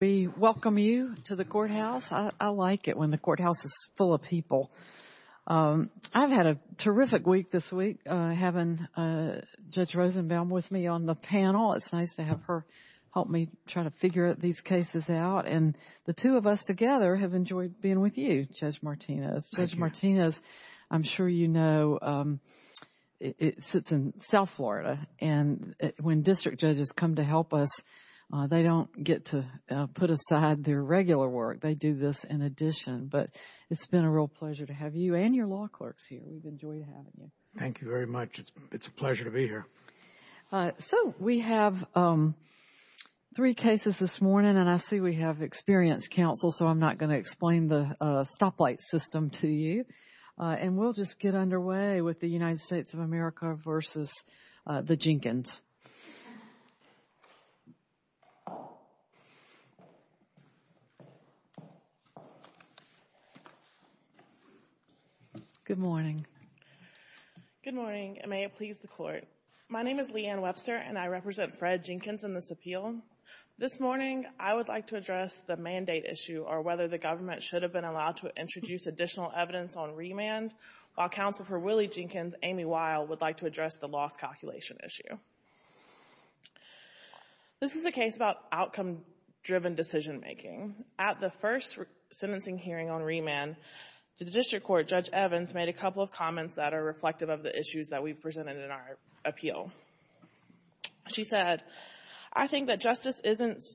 We welcome you to the courthouse. I like it when the courthouse is full of people. I've had a terrific week this week, having Judge Rosenbaum with me on the panel. It's nice to have her help me try to figure these cases out. And the two of us together have enjoyed being with you, Judge Martinez. Judge Martinez, I'm sure you know, sits in South Florida. And when district judges come to help us, they don't get to put aside their regular work. They do this in addition. But it's been a real pleasure to have you and your law clerks here. We've enjoyed having you. Thank you very much. It's a pleasure to be here. So we have three cases this morning, and I see we have experienced counsel, so I'm not going to explain the stoplight system to you. And we'll just get underway with the United States of the Jenkins. Good morning. Good morning, and may it please the court. My name is Leanne Webster, and I represent Fred Jenkins in this appeal. This morning, I would like to address the mandate issue or whether the government should have been allowed to introduce additional evidence on remand, while Counsel for Willie Jenkins, Amy Weil, would like to address the loss calculation issue. This is a case about outcome-driven decision-making. At the first sentencing hearing on remand, the district court, Judge Evans, made a couple of comments that are reflective of the issues that we've presented in our appeal. She said, I think that justice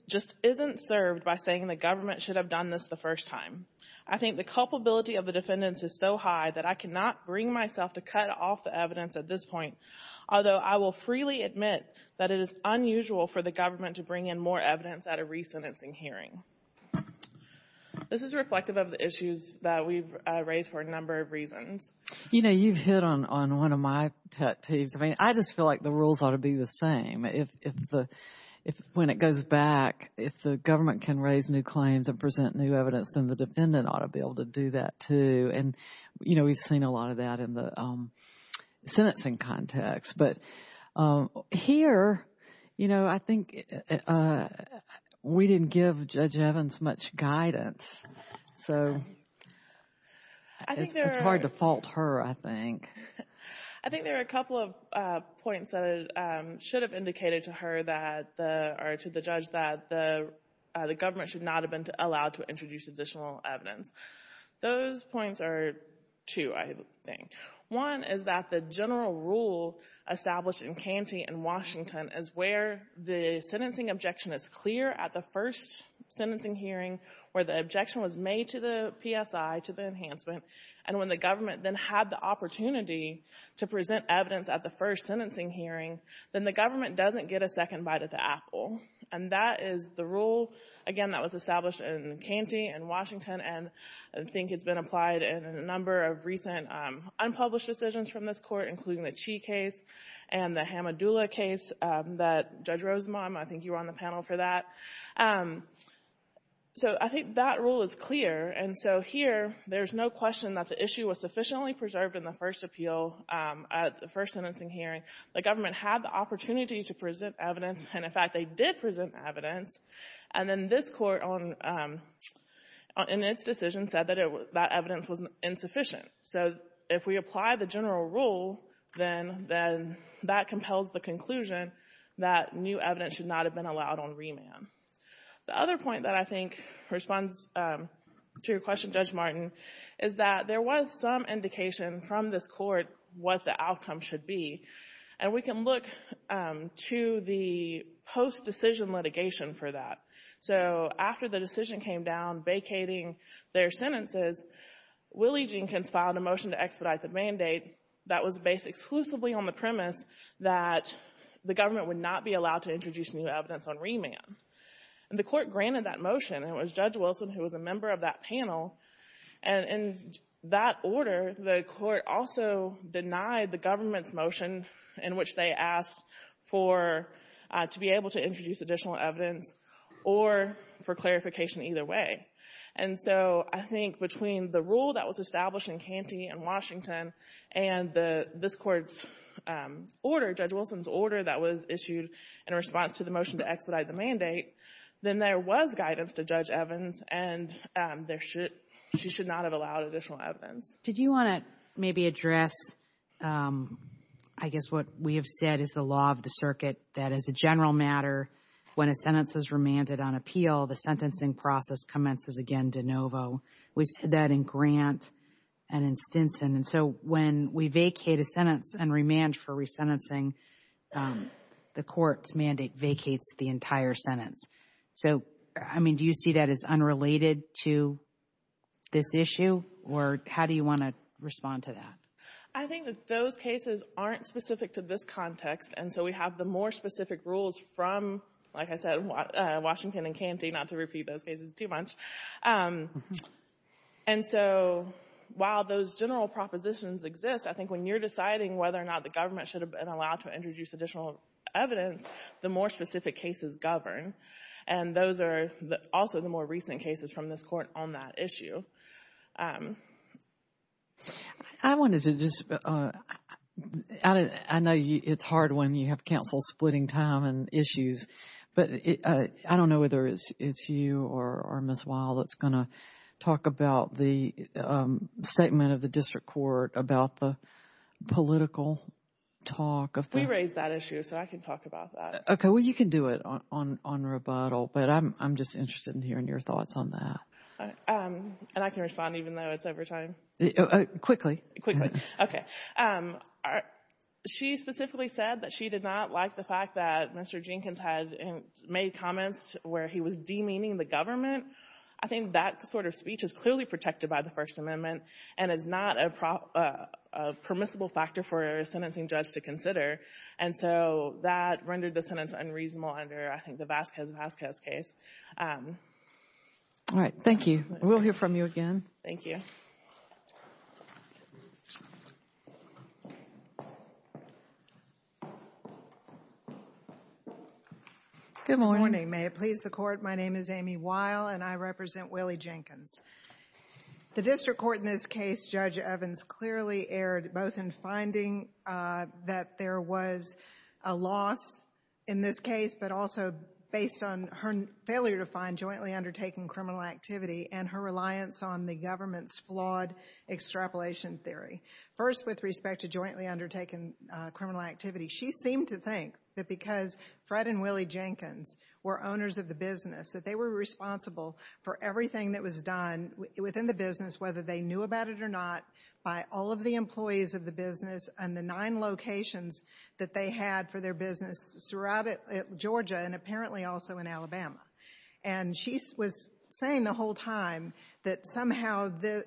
just isn't served by saying the government should have done this the first time. I think the culpability of the defendants is so high that I cannot bring myself to cut off the evidence at this point, although I will freely admit that it is unusual for the government to bring in more evidence at a resentencing hearing. This is reflective of the issues that we've raised for a number of reasons. You know, you've hit on one of my pet peeves. I mean, I just feel like the rules ought to be the same. If when it goes back, if the government can raise new claims and present new evidence, then the defendant ought to be able to do that, too. And, you know, we've seen a lot of that in the sentencing context. But here, you know, I think we didn't give Judge Evans much guidance. So it's hard to fault her, I think. I think there are a couple of points that should have indicated to her that, or to the judge, that the government should not have been allowed to introduce additional evidence. Those points are two, I think. One is that the general rule established in Canty and Washington is where the sentencing objection is clear at the first sentencing hearing, where the objection was made to the PSI, to the enhancement, and when the government then had the opportunity to present evidence at the first sentencing hearing, then the government doesn't get a second bite at the apple. And that is the rule, again, that was established in Canty and Washington, and I think it's been applied in a number of recent unpublished decisions from this Court, including the Chee case and the Hamadula case that Judge Rosenbaum, I think you were on the panel for that. So I think that rule is clear. And so here, there's no question that the issue was sufficiently preserved in the first appeal at the first sentencing hearing. The government had the opportunity to present evidence, and, in fact, they did present evidence. And then this Court, in its decision, said that that evidence was insufficient. So if we apply the general rule, then that compels the conclusion that new evidence should not have been allowed on remand. The other point that I think responds to your question, Judge Martin, is that there was some indication from this Court what the outcome should be. And we can look to the post-decision litigation for that. So after the decision came down vacating their sentences, Willie Jenkins filed a motion to expedite the mandate that was based exclusively on the premise that the government would not be allowed to introduce new evidence on remand. And the Court granted that motion, and it was denied the government's motion in which they asked for, to be able to introduce additional evidence or for clarification either way. And so I think between the rule that was established in Canty and Washington and this Court's order, Judge Wilson's order that was issued in response to the motion to expedite the mandate, then there was guidance to Judge Evans, and she should not have allowed additional evidence. Did you want to maybe address, I guess, what we have said is the law of the circuit, that as a general matter, when a sentence is remanded on appeal, the sentencing process commences again de novo. We've said that in Grant and in Stinson. And so when we vacate a sentence and remand for resentencing, the Court's mandate vacates the entire sentence. So, I mean, do you see that as unrelated to this issue? Or how do you want to respond to that? I think that those cases aren't specific to this context. And so we have the more specific rules from, like I said, Washington and Canty, not to repeat those cases too much. And so while those general propositions exist, I think when you're deciding whether or not the government should have been allowed to introduce additional evidence, the more specific cases govern. And those are also the more recent cases from this Court on that issue. I wanted to just add, I know it's hard when you have counsel splitting time and issues, but I don't know whether it's you or Ms. Weill that's going to talk about the statement of the District Court about the political talk. We raised that issue, so I can talk about that. Okay. Well, you can do it on rebuttal, but I'm just interested in hearing your thoughts on that. And I can respond even though it's over time. Quickly. Quickly. Okay. She specifically said that she did not like the fact that Mr. Jenkins had made comments where he was demeaning the government. I think that sort of speech is clearly protected by the First Amendment and is not a permissible factor for a sentencing judge to consider. And so that rendered the sentence unreasonable under, I think, the Vasquez case. All right. Thank you. We'll hear from you again. Thank you. Good morning. Good morning. May it please the Court, my name is Amy Weill and I represent Willie Jenkins. The District Court in this case, Judge Evans clearly erred both in finding that there was a loss in this case, but also based on her failure to find jointly undertaken criminal activity and her reliance on the government's flawed extrapolation theory. First, with respect to jointly undertaken criminal activity, she seemed to think that because Fred and Willie Jenkins were owners of the business, that they were responsible for everything that was done within the business, whether they knew about it or not, by all of the employees of the business and the nine locations that they had for their business throughout Georgia and apparently also in Alabama. And she was saying the whole time that somehow the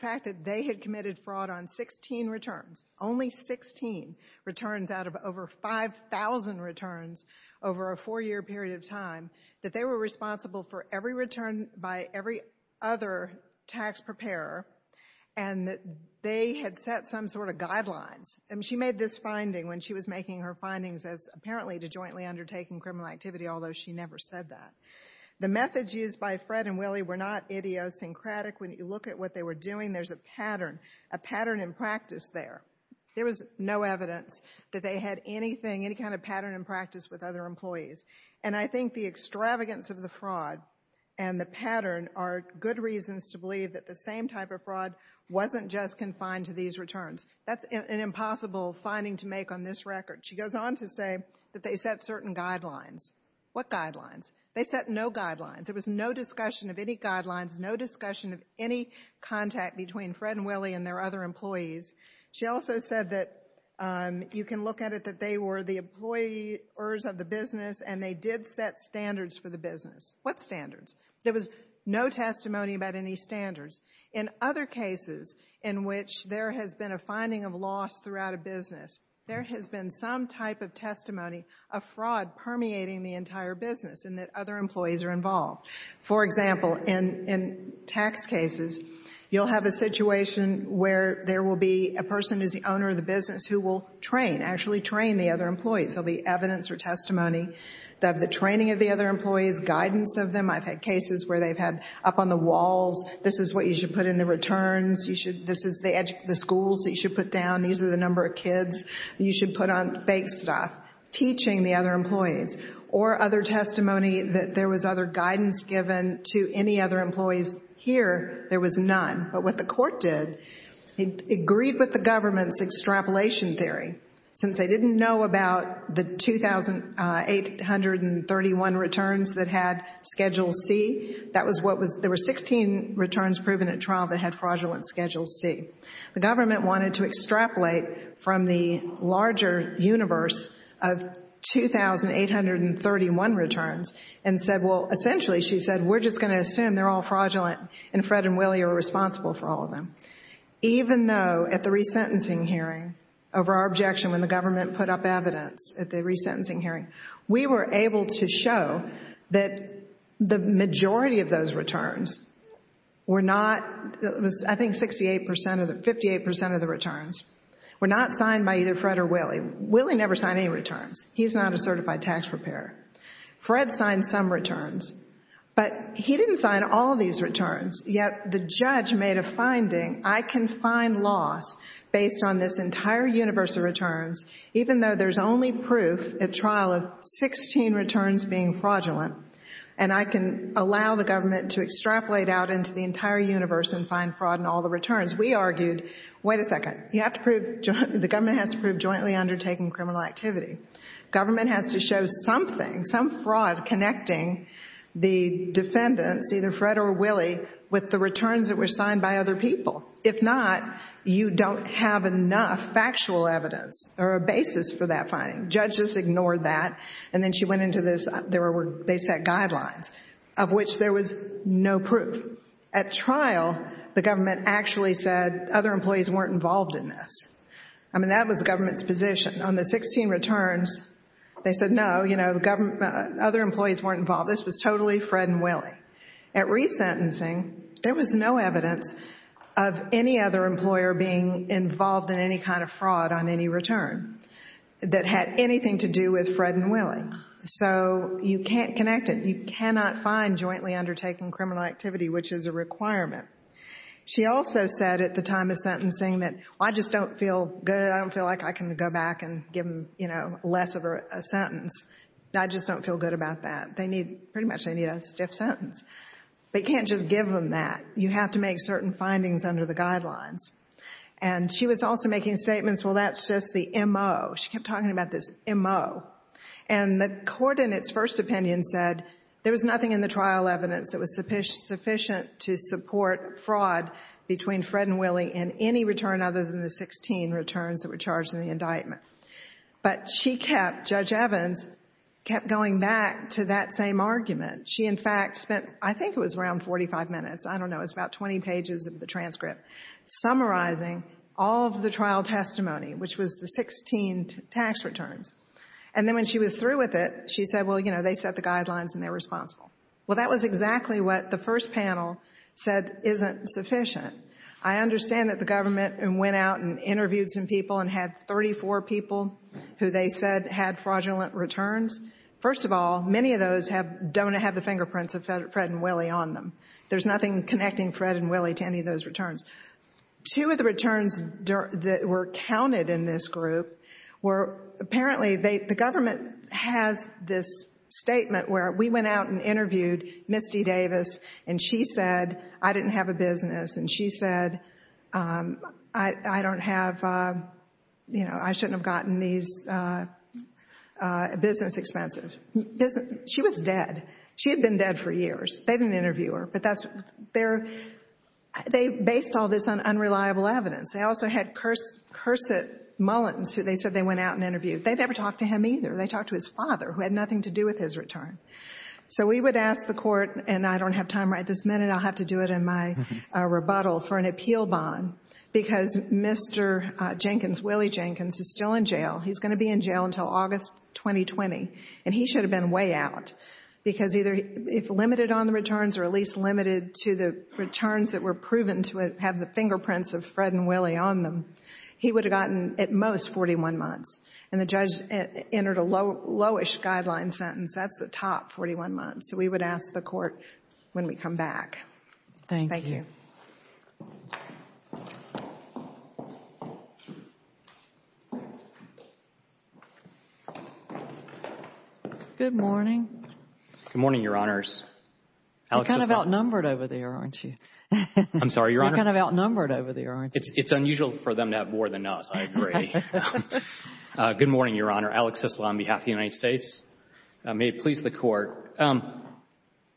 fact that they had committed fraud on 16 returns over a four-year period of time, that they were responsible for every return by every other tax preparer and that they had set some sort of guidelines. And she made this finding when she was making her findings as apparently to jointly undertaken criminal activity, although she never said that. The methods used by Fred and Willie were not idiosyncratic. When you look at what they were doing, there's a pattern, a pattern in practice there. There was no evidence that they had anything, any kind of pattern in practice with other employees. And I think the extravagance of the fraud and the pattern are good reasons to believe that the same type of fraud wasn't just confined to these returns. That's an impossible finding to make on this record. She goes on to say that they set certain guidelines. What guidelines? They set no guidelines. There was no discussion of any guidelines, no discussion of any contact between Fred and Willie and their other employees. She also said that you can look at it that they were the employers of the business and they did set standards for the business. What standards? There was no testimony about any standards. In other cases in which there has been a finding of loss throughout a business, there has been some type of testimony of fraud permeating the entire business and that other employees are involved. For example, in tax cases, you'll have a situation where there will be a person who's the owner of the business who will train, actually train the other employees. There will be evidence or testimony of the training of the other employees, guidance of them. I've had cases where they've had up on the walls, this is what you should put in the returns. This is the schools that you should put down. These are the number of kids you should put on fake stuff, teaching the other employees or other testimony that there was other guidance given to any other employees. Here, there was none. But what the court did, it agreed with the government's extrapolation theory since they didn't know about the 2,831 returns that had Schedule C. There were 16 returns proven at trial that had fraudulent Schedule C. The government wanted to extrapolate from the larger universe of 2,831 returns and said, well, essentially, she said, we're just going to assume they're all fraudulent and Fred and Willie are responsible for all of them. Even though, at the resentencing hearing, over our objection when the government put up evidence at the resentencing hearing, we were able to show that the majority of those returns were not, it was I think 58% of the returns, were not signed by either Fred or Willie. Willie never signed any returns. He's not a certified tax preparer. Fred signed some returns, but he didn't sign all these returns. Yet, the judge made a finding, I can find loss based on this entire universe of returns, even though there's only proof at trial of 16 returns being laid out into the entire universe and find fraud in all the returns. We argued, wait a second, you have to prove, the government has to prove jointly undertaking criminal activity. Government has to show something, some fraud connecting the defendants, either Fred or Willie, with the returns that were signed by other people. If not, you don't have enough factual evidence or a basis for that finding. Judges ignored that, and then she went into this, there were, they set guidelines, of which there was no proof. At trial, the government actually said, other employees weren't involved in this. I mean, that was the government's position. On the 16 returns, they said, no, you know, other employees weren't involved. This was totally Fred and Willie. At resentencing, there was no evidence of any other employer being involved in any kind of fraud on any return that had anything to do with Fred and Willie. So you can't connect it. You cannot find jointly undertaking criminal activity, which is a requirement. She also said at the time of sentencing that, well, I just don't feel good. I don't feel like I can go back and give them, you know, less of a sentence. I just don't feel good about that. They need, pretty much, they need a stiff sentence. But you can't just give them that. You have to make certain findings under the guidelines. And she was also making statements, well, that's just the M.O. She kept talking about this M.O. And the court, in its first opinion, said there was nothing in the trial evidence that was sufficient to support fraud between Fred and Willie in any return other than the 16 returns that were charged in the indictment. But she kept, Judge Evans, kept going back to that same argument. She, in fact, spent, I think it was around 45 minutes, I don't know, it's about 20 pages of the transcript, summarizing all of the trial testimony, which was the 16 tax returns. And then when she was through with it, she said, well, you know, they set the guidelines and they're responsible. Well, that was exactly what the first panel said isn't sufficient. I understand that the government went out and interviewed some people and had 34 people who they said had fraudulent returns. First of all, many of those have, don't have the fingerprints of Fred and Willie on them. There's nothing connecting Fred and Willie to any of those returns. Two of the returns that were counted in this group were, apparently, they, the government has this statement where we went out and interviewed Miss D. Davis and she said, I didn't have a business. And she said, I don't have, you know, I shouldn't have gotten these business expenses. She was dead. She had been dead for years. They didn't interview her, but that's their, they based all this on unreliable evidence. They also had Cursett Mullins, who they said they went out and interviewed. They never talked to him either. They talked to his father, who had nothing to do with his return. So we would ask the court, and I don't have time right this minute, I'll have to do it in my rebuttal, for an appeal bond, because Mr. Jenkins, Willie Jenkins, is still in jail. He's going to be in jail until August 2020. And he should have been way out, because either if limited on the returns or at least limited to the returns that were proven to have the fingerprints of Fred and Willie on them, he would have gotten at most 41 months. And the judge entered a low-ish guideline sentence. That's the top 41 months. So we ask the court when we come back. Thank you. Good morning. Good morning, Your Honors. You're kind of outnumbered over there, aren't you? I'm sorry, Your Honor? You're kind of outnumbered over there, aren't you? It's unusual for them to have more than us. I agree. Good morning, Your Honor. Alex Hyslop on behalf of the United States. May it please the court.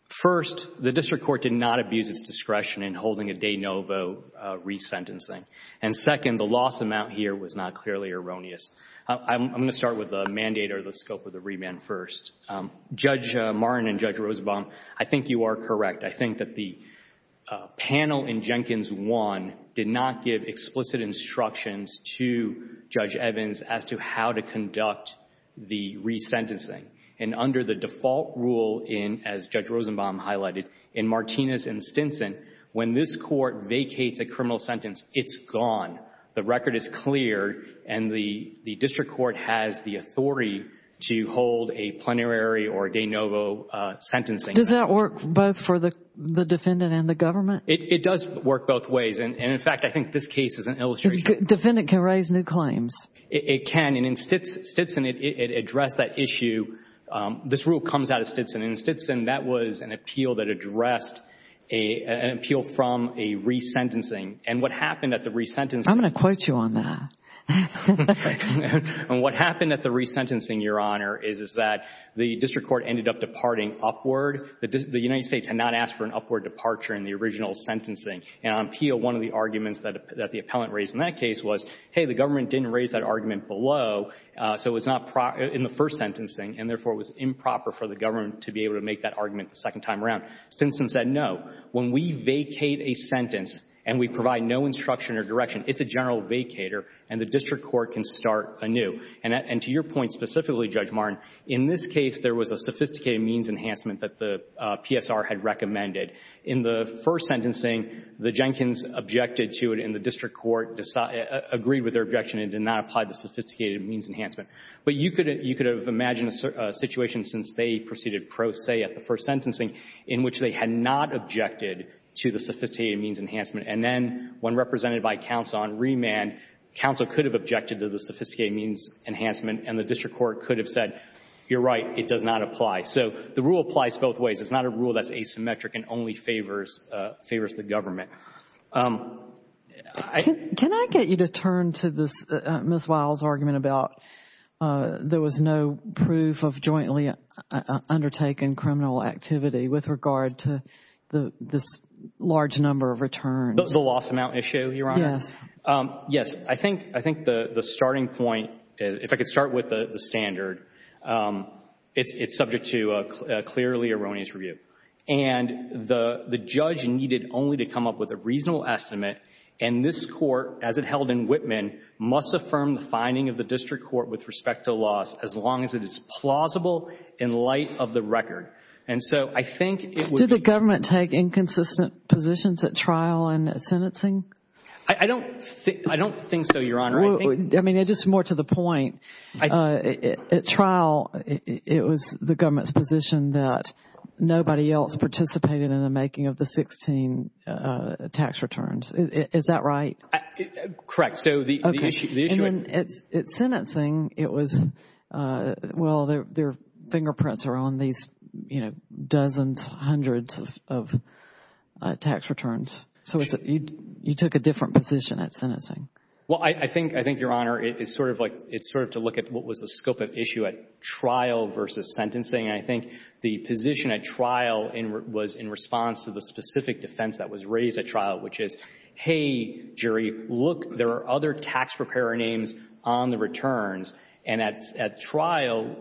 First, the district court did not abuse its discretion in holding a de novo resentencing. And second, the loss amount here was not clearly erroneous. I'm going to start with the mandate or the scope of the remand first. Judge Martin and Judge Rosenbaum, I think you are correct. I think that the panel in Jenkins 1 did not give explicit instructions to Judge Evans as to how to conduct the resentencing. And under the default rule in, as Judge Rosenbaum highlighted, in Martinez and Stinson, when this court vacates a criminal sentence, it's gone. The record is clear and the district court has the authority to hold a plenary or de novo sentencing. Does that work both for the defendant and the government? It does work both ways. And in fact, I think this case is an illustration. Defendant can raise new claims. It can. And in Stinson, it addressed that issue. This rule comes out of Stinson. In Stinson, that was an appeal that addressed an appeal from a resentencing. And what happened at the resentencing. I'm going to quote you on that. And what happened at the resentencing, Your Honor, is that the district court ended up departing upward. The United States had not asked for an upward departure in the original sentencing. And on appeal, one of the arguments that the appellant raised in that case was, hey, the government didn't raise that argument below in the first sentencing. And therefore, it was improper for the government to be able to make that argument the second time around. Stinson said, no, when we vacate a sentence and we provide no instruction or direction, it's a general vacator and the district court can start anew. And to your point specifically, Judge Martin, in this case, there was a sophisticated means enhancement that the PSR had recommended. In the first sentencing, the Jenkins objected to it and the district court agreed with their objection and did not apply the sophisticated means enhancement. But you could have imagined a situation since they proceeded pro se at the first sentencing in which they had not objected to the sophisticated means enhancement. And then when represented by counsel on remand, counsel could have objected to the sophisticated means enhancement and the district court could have said, you're right, it does not apply. So the rule applies both ways. It's not a rule that's asymmetric and only favors the government. Can I get you to turn to Ms. Weil's argument about there was no proof of jointly undertaken criminal activity with regard to this large number of returns? The loss amount issue, Your Honor? Yes. Yes. I think the starting point, if I could start with the standard, it's subject to a clearly erroneous review. And the judge needed only to come up with a court, as it held in Whitman, must affirm the finding of the district court with respect to loss as long as it is plausible in light of the record. And so I think it would be— Did the government take inconsistent positions at trial and sentencing? I don't think so, Your Honor. I think— I mean, just more to the point, at trial, it was the government's position that Correct. So the issue— Okay. And then at sentencing, it was, well, their fingerprints are on these, you know, dozens, hundreds of tax returns. So you took a different position at sentencing. Well, I think, Your Honor, it's sort of to look at what was the scope of issue at trial versus sentencing. And I think the position at trial was in response to the specific defense that was raised at trial, which is, hey, Jerry, look, there are other tax preparer names on the returns. And at trial,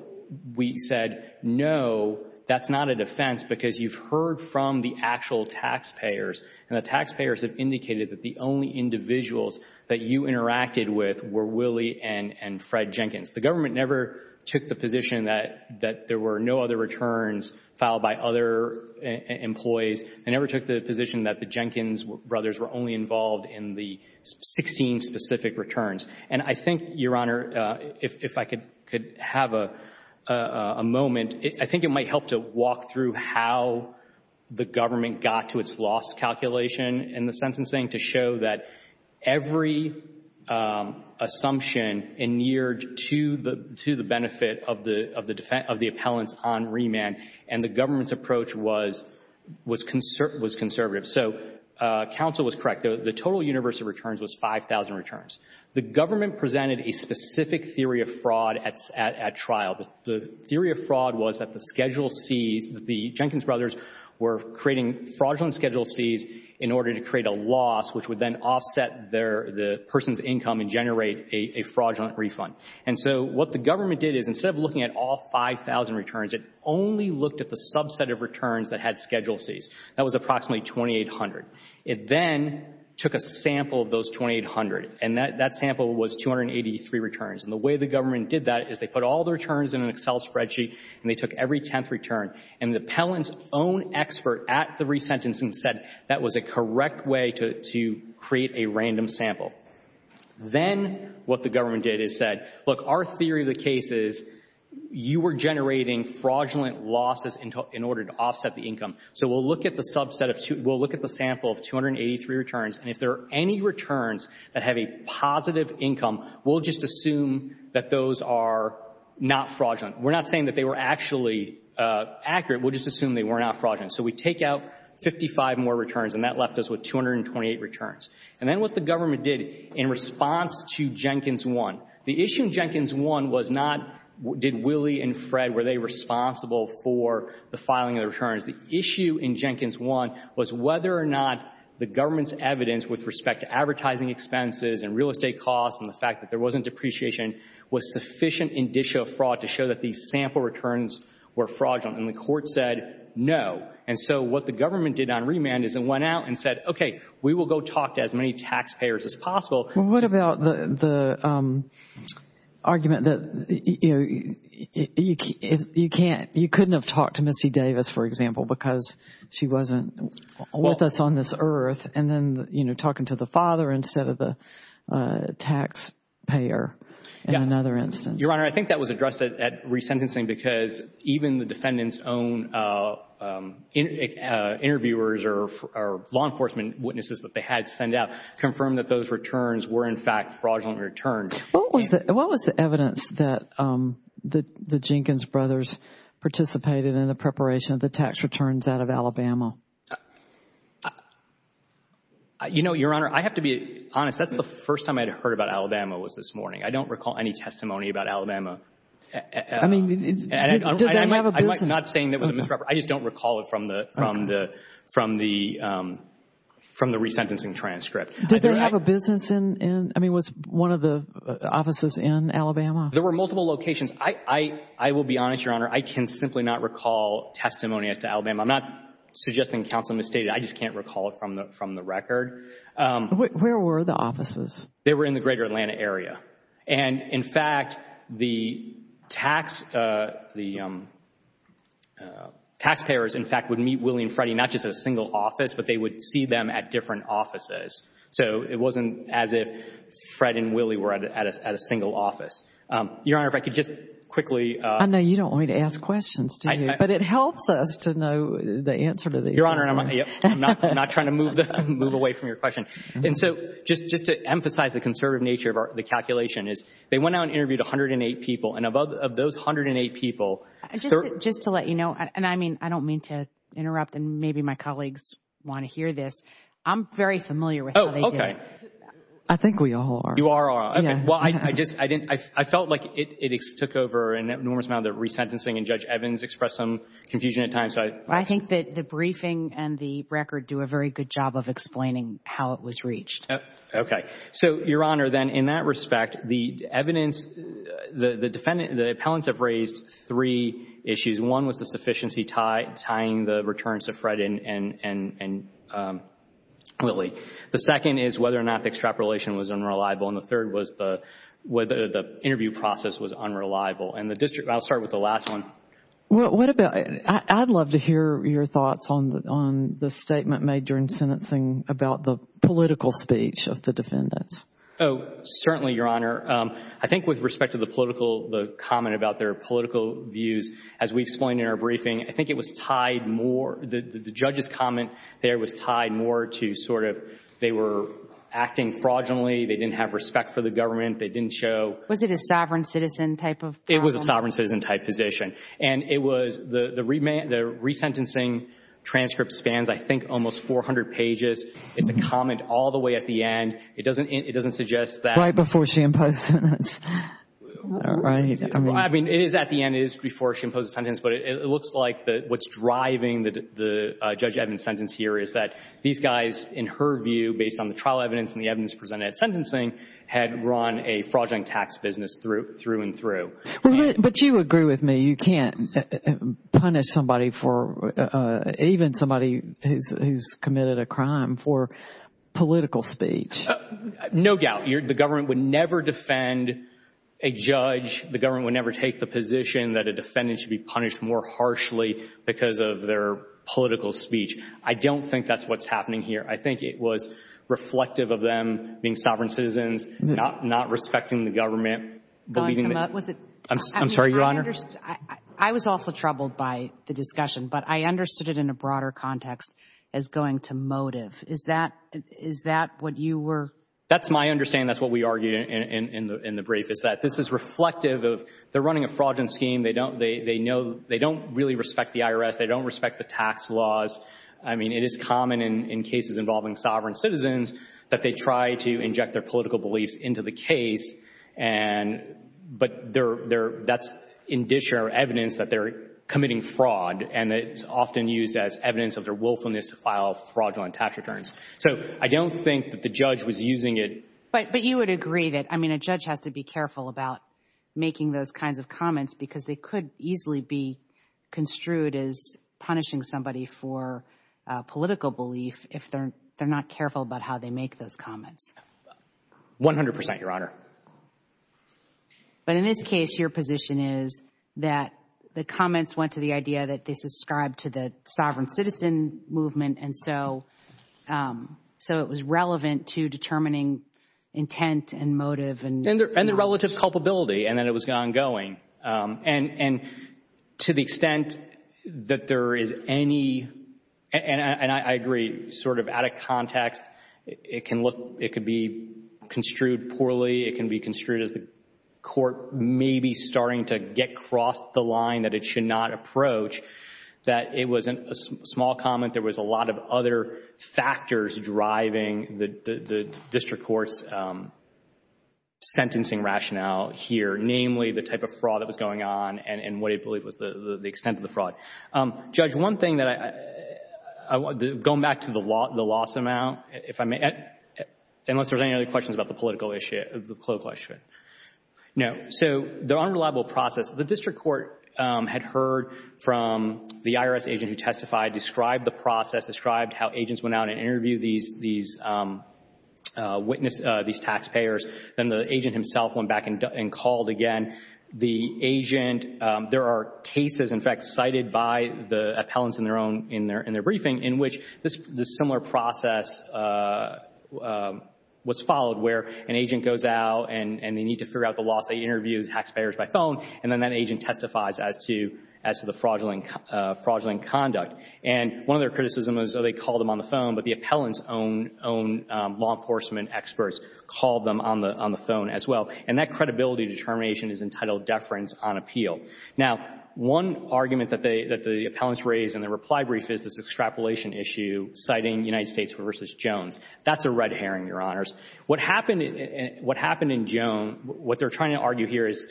we said, no, that's not a defense because you've heard from the actual taxpayers. And the taxpayers have indicated that the only individuals that you interacted with were Willie and Fred Jenkins. The government never took the position that there were no other taxpayers, that the Jenkins brothers were only involved in the 16 specific returns. And I think, Your Honor, if I could have a moment, I think it might help to walk through how the government got to its loss calculation in the sentencing to show that every assumption inured to the benefit of the appellants on remand. And the government's assumption was conservative. So counsel was correct. The total universe of returns was 5,000 returns. The government presented a specific theory of fraud at trial. The theory of fraud was that the schedule Cs, the Jenkins brothers were creating fraudulent schedule Cs in order to create a loss, which would then offset the person's income and generate a fraudulent refund. And so what the government did is, instead of looking at all 5,000 returns, it only looked at the subset of returns that had schedule Cs. That was approximately 2,800. It then took a sample of those 2,800, and that sample was 283 returns. And the way the government did that is they put all the returns in an Excel spreadsheet, and they took every tenth return. And the appellant's own expert at the resentencing said that was a correct way to create a random sample. Then what the government did is said, look, our theory of the case is you were generating fraudulent losses in order to offset the income. So we'll look at the sample of 283 returns, and if there are any returns that have a positive income, we'll just assume that those are not fraudulent. We're not saying that they were actually accurate. We'll just assume they were not fraudulent. So we take out 55 more returns, and that left us with 228 returns. And then what the government did in response to Jenkins 1, the issue in Jenkins 1 was not, did Willie and Fred, were they responsible for the filing of the returns? The issue in Jenkins 1 was whether or not the government's evidence with respect to advertising expenses and real estate costs and the fact that there wasn't depreciation was sufficient indicia of fraud to show that these sample returns were fraudulent. And the court said no. And so what the government did on remand is it went out and said, okay, we will go talk to as many taxpayers as possible. What about the argument that, you know, you can't, you couldn't have talked to Missy Davis, for example, because she wasn't with us on this earth, and then, you know, talking to the father instead of the taxpayer in another instance? Your Honor, I think that was addressed at resentencing because even the defendant's own interviewers or law enforcement witnesses that had sent out confirmed that those returns were, in fact, fraudulent returns. What was the evidence that the Jenkins brothers participated in the preparation of the tax returns out of Alabama? You know, Your Honor, I have to be honest. That's the first time I'd heard about Alabama was this morning. I don't recall any testimony about Alabama. I mean, did they have a business? I just don't recall it from the resentencing transcript. Did they have a business in, I mean, was one of the offices in Alabama? There were multiple locations. I will be honest, Your Honor, I can simply not recall testimony as to Alabama. I'm not suggesting counsel misstated. I just can't recall it from the record. Where were the offices? They were in the greater Atlanta area. And, in fact, the taxpayers, in fact, would meet Willie and Freddie not just at a single office, but they would see them at different offices. So it wasn't as if Fred and Willie were at a single office. Your Honor, if I could just quickly... I know you don't want me to ask questions, do you? But it helps us to know the answer to these questions. Your Honor, I'm not trying to move away from your question. And so just to the conservative nature of the calculation is they went out and interviewed 108 people. And of those 108 people... Just to let you know, and I mean, I don't mean to interrupt, and maybe my colleagues want to hear this. I'm very familiar with how they did it. Oh, okay. I think we all are. You are, all right. Okay. Well, I felt like it took over an enormous amount of the resentencing and Judge Evans expressed some confusion at times. I think that the briefing and the record do a very good job of explaining how it was reached. Okay. So, Your Honor, then in that respect, the evidence, the defendant, the appellants have raised three issues. One was the sufficiency tying the returns to Fred and Willie. The second is whether or not the extrapolation was unreliable. And the third was whether the interview process was unreliable. And the district... I'll start with the last one. Well, what about... I'd love to hear your thoughts on the statement made during sentencing about the political speech of the defendants. Oh, certainly, Your Honor. I think with respect to the political, the comment about their political views, as we explained in our briefing, I think it was tied more... The judge's comment there was tied more to sort of they were acting fraudulently. They didn't have respect for the government. They didn't show... Was it a sovereign citizen type of position? It was a sovereign citizen type position. And it was... The resentencing transcript spans, I think, almost 400 pages. It's a comment all the way at the end. It doesn't suggest that... Right before she imposed a sentence. Well, I mean, it is at the end. It is before she imposed a sentence. But it looks like what's driving the Judge Evans' sentence here is that these guys, in her view, based on the trial evidence and the evidence presented at sentencing, had run a fraudulent tax business through and through. But you agree with me. You can't punish somebody for... Even somebody who's committed a crime for political speech. No doubt. The government would never defend a judge. The government would never take the position that a defendant should be punished more harshly because of their political speech. I don't think that's what's happening here. I think it was reflective of them being sovereign citizens, not respecting the government. I'm sorry, Your Honor? I was also troubled by the discussion, but I understood it in a broader context as going to motive. Is that what you were... That's my understanding. That's what we argued in the brief, is that this is reflective of... They're running a fraudulent scheme. They don't really respect the IRS. They don't respect the tax laws. I mean, it is common in cases involving sovereign citizens that they try to inject their but that's in dish or evidence that they're committing fraud. And it's often used as evidence of their willfulness to file fraudulent tax returns. So I don't think that the judge was using it... But you would agree that, I mean, a judge has to be careful about making those kinds of comments because they could easily be construed as punishing somebody for political belief if they're not careful about how they make those comments. One hundred percent, Your Honor. But in this case, your position is that the comments went to the idea that they subscribe to the sovereign citizen movement. And so it was relevant to determining intent and motive. And the relative culpability. And then it was ongoing. And to the extent that there is any... It can look... It could be construed poorly. It can be construed as the court maybe starting to get across the line that it should not approach. That it wasn't a small comment. There was a lot of other factors driving the district court's sentencing rationale here. Namely, the type of fraud that was going on and what he believed was the extent of the fraud. Judge, one thing that I... Going back to the loss amount, if I may. Unless there's any other questions about the political issue. No. So the unreliable process. The district court had heard from the IRS agent who testified, described the process, described how agents went out and interviewed these taxpayers. Then the agent himself went back and called again. The agent... There are cases, in fact, cited by the appellants in their briefing in which this similar process was followed where an agent goes out and they need to figure out the loss. They interviewed taxpayers by phone. And then that agent testifies as to the fraudulent conduct. And one of their criticisms was they called them on the phone. But the appellant's own law enforcement experts called them on the phone as well. And that credibility determination is entitled deference on appeal. Now, one argument that the appellants raised in their reply brief is this extrapolation issue citing United States v. Jones. That's a red herring, Your Honors. What happened in Jones... What they're trying to argue here is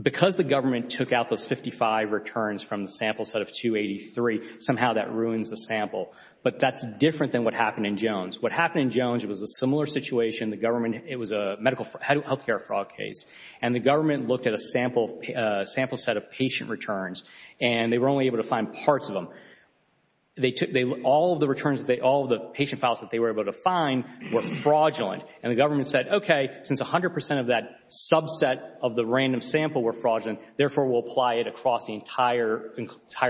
because the government took out those 55 returns from the sample set of 283, somehow that ruins the sample. But that's different than what happened in Jones. What happened in Jones, it was a similar situation. The government... It was a health care fraud case. And the government looked at a sample set of patient returns. And they were only able to find parts of them. They took... All of the returns, all of the patient files that they were able to find were fraudulent. And the government said, okay, since 100 percent of that subset of the random sample were fraudulent, therefore we'll apply it across the entire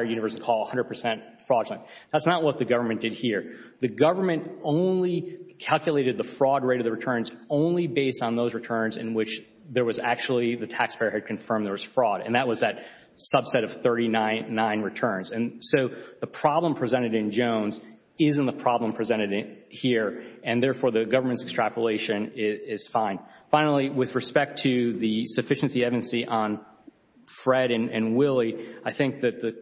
universe and call 100 percent fraudulent. That's not what the government did here. The government only calculated the fraud rate of the returns only based on those returns in which there was actually... The taxpayer had confirmed there was fraud. And that was that subset of 39 returns. And so the problem presented in Jones isn't the problem presented here. And therefore, the government's extrapolation is fine. Finally, with respect to the sufficiency on Fred and Willie, I think that the...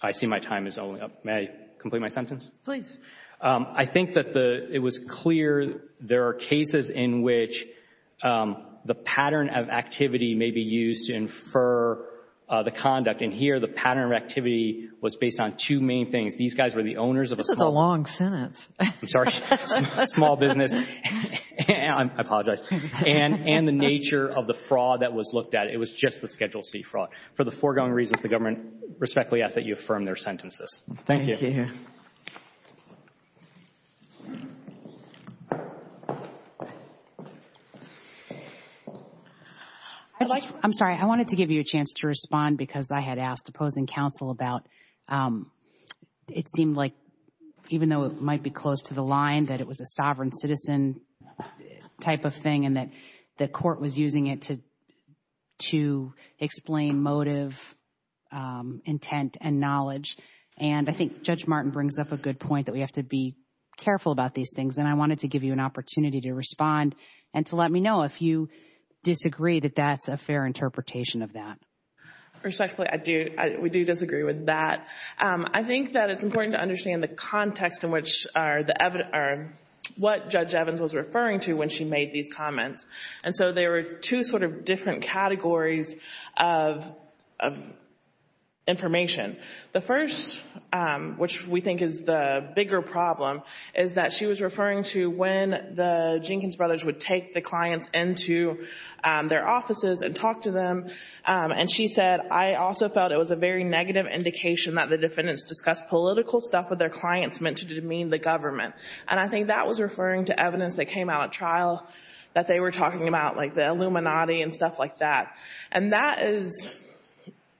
I see my time is only up. May I complete my sentence? Please. I think that it was clear there are cases in which the pattern of activity may be used to infer the conduct. And here, the pattern of activity was based on two main things. These guys were the owners of a small... This is a long sentence. I'm sorry. Small business. I apologize. And the nature of the fraud that was looked at, it was just the Schedule C fraud. For the foregoing reasons, the government respectfully asks that you affirm their sentences. Thank you. Thank you. I'm sorry. I wanted to give you a chance to respond because I had asked opposing counsel about... It seemed like, even though it might be close to the line, that it was a sovereign citizen type of thing and that the court was using it to explain motive, intent, and knowledge. And I think Judge Martin brings up a good point that we have to be careful about these things. And I wanted to give you an opportunity to respond and to let me know if you disagree that that's a fair interpretation of that. Respectfully, I do. We do disagree with that. I think that it's important to understand the she made these comments. And so there were two different categories of information. The first, which we think is the bigger problem, is that she was referring to when the Jenkins brothers would take the clients into their offices and talk to them. And she said, I also felt it was a very negative indication that the defendants discussed political stuff with their clients meant to demean the government. And I think that was referring to evidence that came out at trial that they were talking about, like the Illuminati and stuff like that. And that is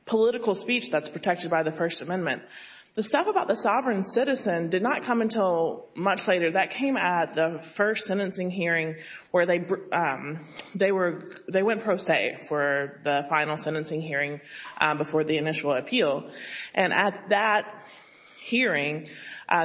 political speech that's protected by the First Amendment. The stuff about the sovereign citizen did not come until much later. That came at the first sentencing hearing where they went pro se for the final sentencing hearing before the initial appeal. And at that hearing,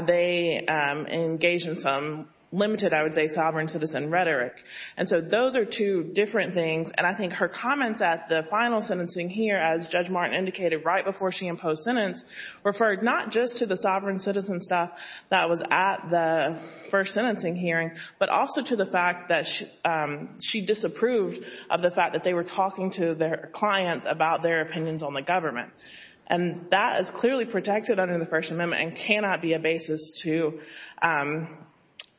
they engaged in some limited, I would say, sovereign citizen rhetoric. And so those are two different things. And I think her comments at the final sentencing here, as Judge Martin indicated right before she imposed sentence, referred not just to the sovereign citizen stuff that was at the first sentencing hearing, but also to the fact that she disapproved of the fact that they were talking to their opinions on the government. And that is clearly protected under the First Amendment and cannot be a basis to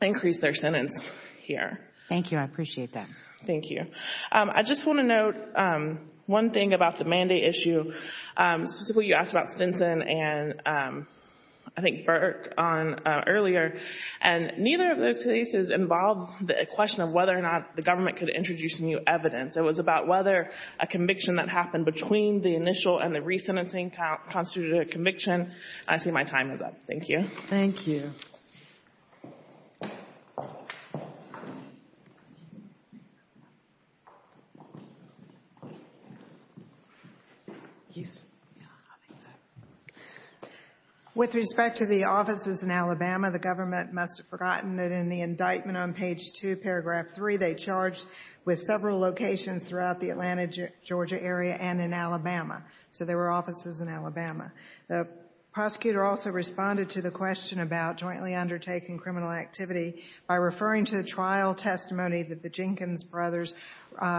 increase their sentence here. Thank you. I appreciate that. Thank you. I just want to note one thing about the mandate issue. Specifically, you asked about Stinson and, I think, Burke earlier. And neither of those cases involved the question of whether or not the government could introduce new evidence. It was about whether a conviction that happened between the initial and the re-sentencing constituted a conviction. I see my time is up. Thank you. Thank you. With respect to the offices in Alabama, the government must have forgotten that in the Georgia area and in Alabama. So there were offices in Alabama. The prosecutor also responded to the question about jointly undertaking criminal activity by referring to the trial testimony that the Jenkins brothers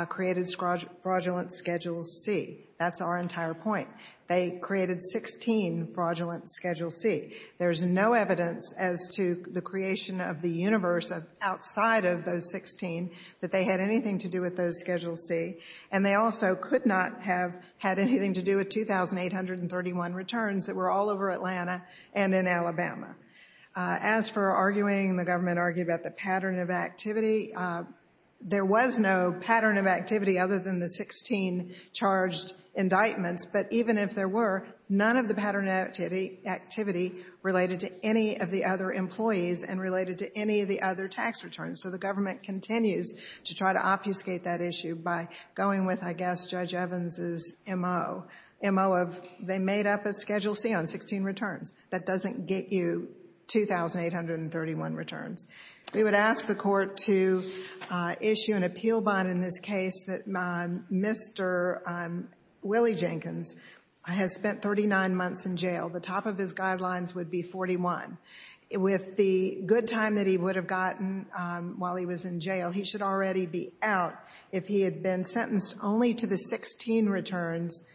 created fraudulent Schedule C. That's our entire point. They created 16 fraudulent Schedule C. There's no evidence as to the creation of the universe outside of those 16 that they had anything to do with those Schedule C. And they also could not have had anything to do with 2,831 returns that were all over Atlanta and in Alabama. As for arguing, the government argued about the pattern of activity, there was no pattern of activity other than the 16 charged indictments. But even if there were, none of the pattern of activity related to any of the other employees and related to any of their tax returns. So the government continues to try to obfuscate that issue by going with, I guess, Judge Evans's M.O. M.O. of they made up a Schedule C on 16 returns. That doesn't get you 2,831 returns. We would ask the court to issue an appeal bond in this case that Mr. Willie Jenkins has spent 39 months in jail. The top of his guidelines would be 41. With the good time that he would have gotten while he was in jail, he should already be out if he had been sentenced only to the 16 returns,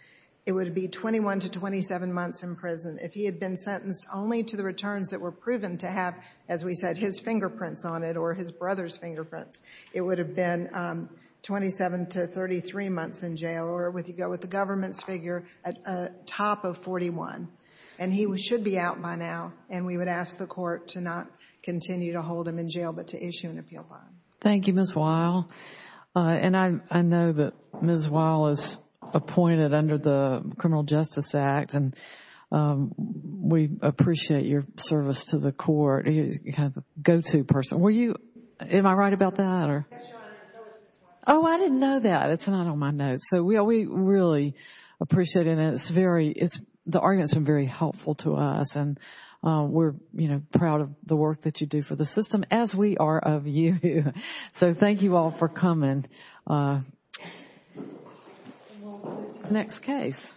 it would be 21 to 27 months in prison. If he had been sentenced only to the returns that were proven to have, as we said, his fingerprints on it or his brother's fingerprints, it would have been 27 to 33 months in jail or with you go with government's figure at the top of 41. And he should be out by now. And we would ask the court to not continue to hold him in jail, but to issue an appeal bond. Thank you, Ms. Weill. And I know that Ms. Weill is appointed under the Criminal Justice Act. And we appreciate your service to the court. He's kind of the go-to person. Were you, am I right about that or? Yes, Your Honor. Oh, I didn't know that. It's not on my notes. So we really appreciate it. And it's very, it's, the arguments have been very helpful to us. And we're, you know, proud of the work that you do for the system as we are of you. So thank you all for coming. Next case.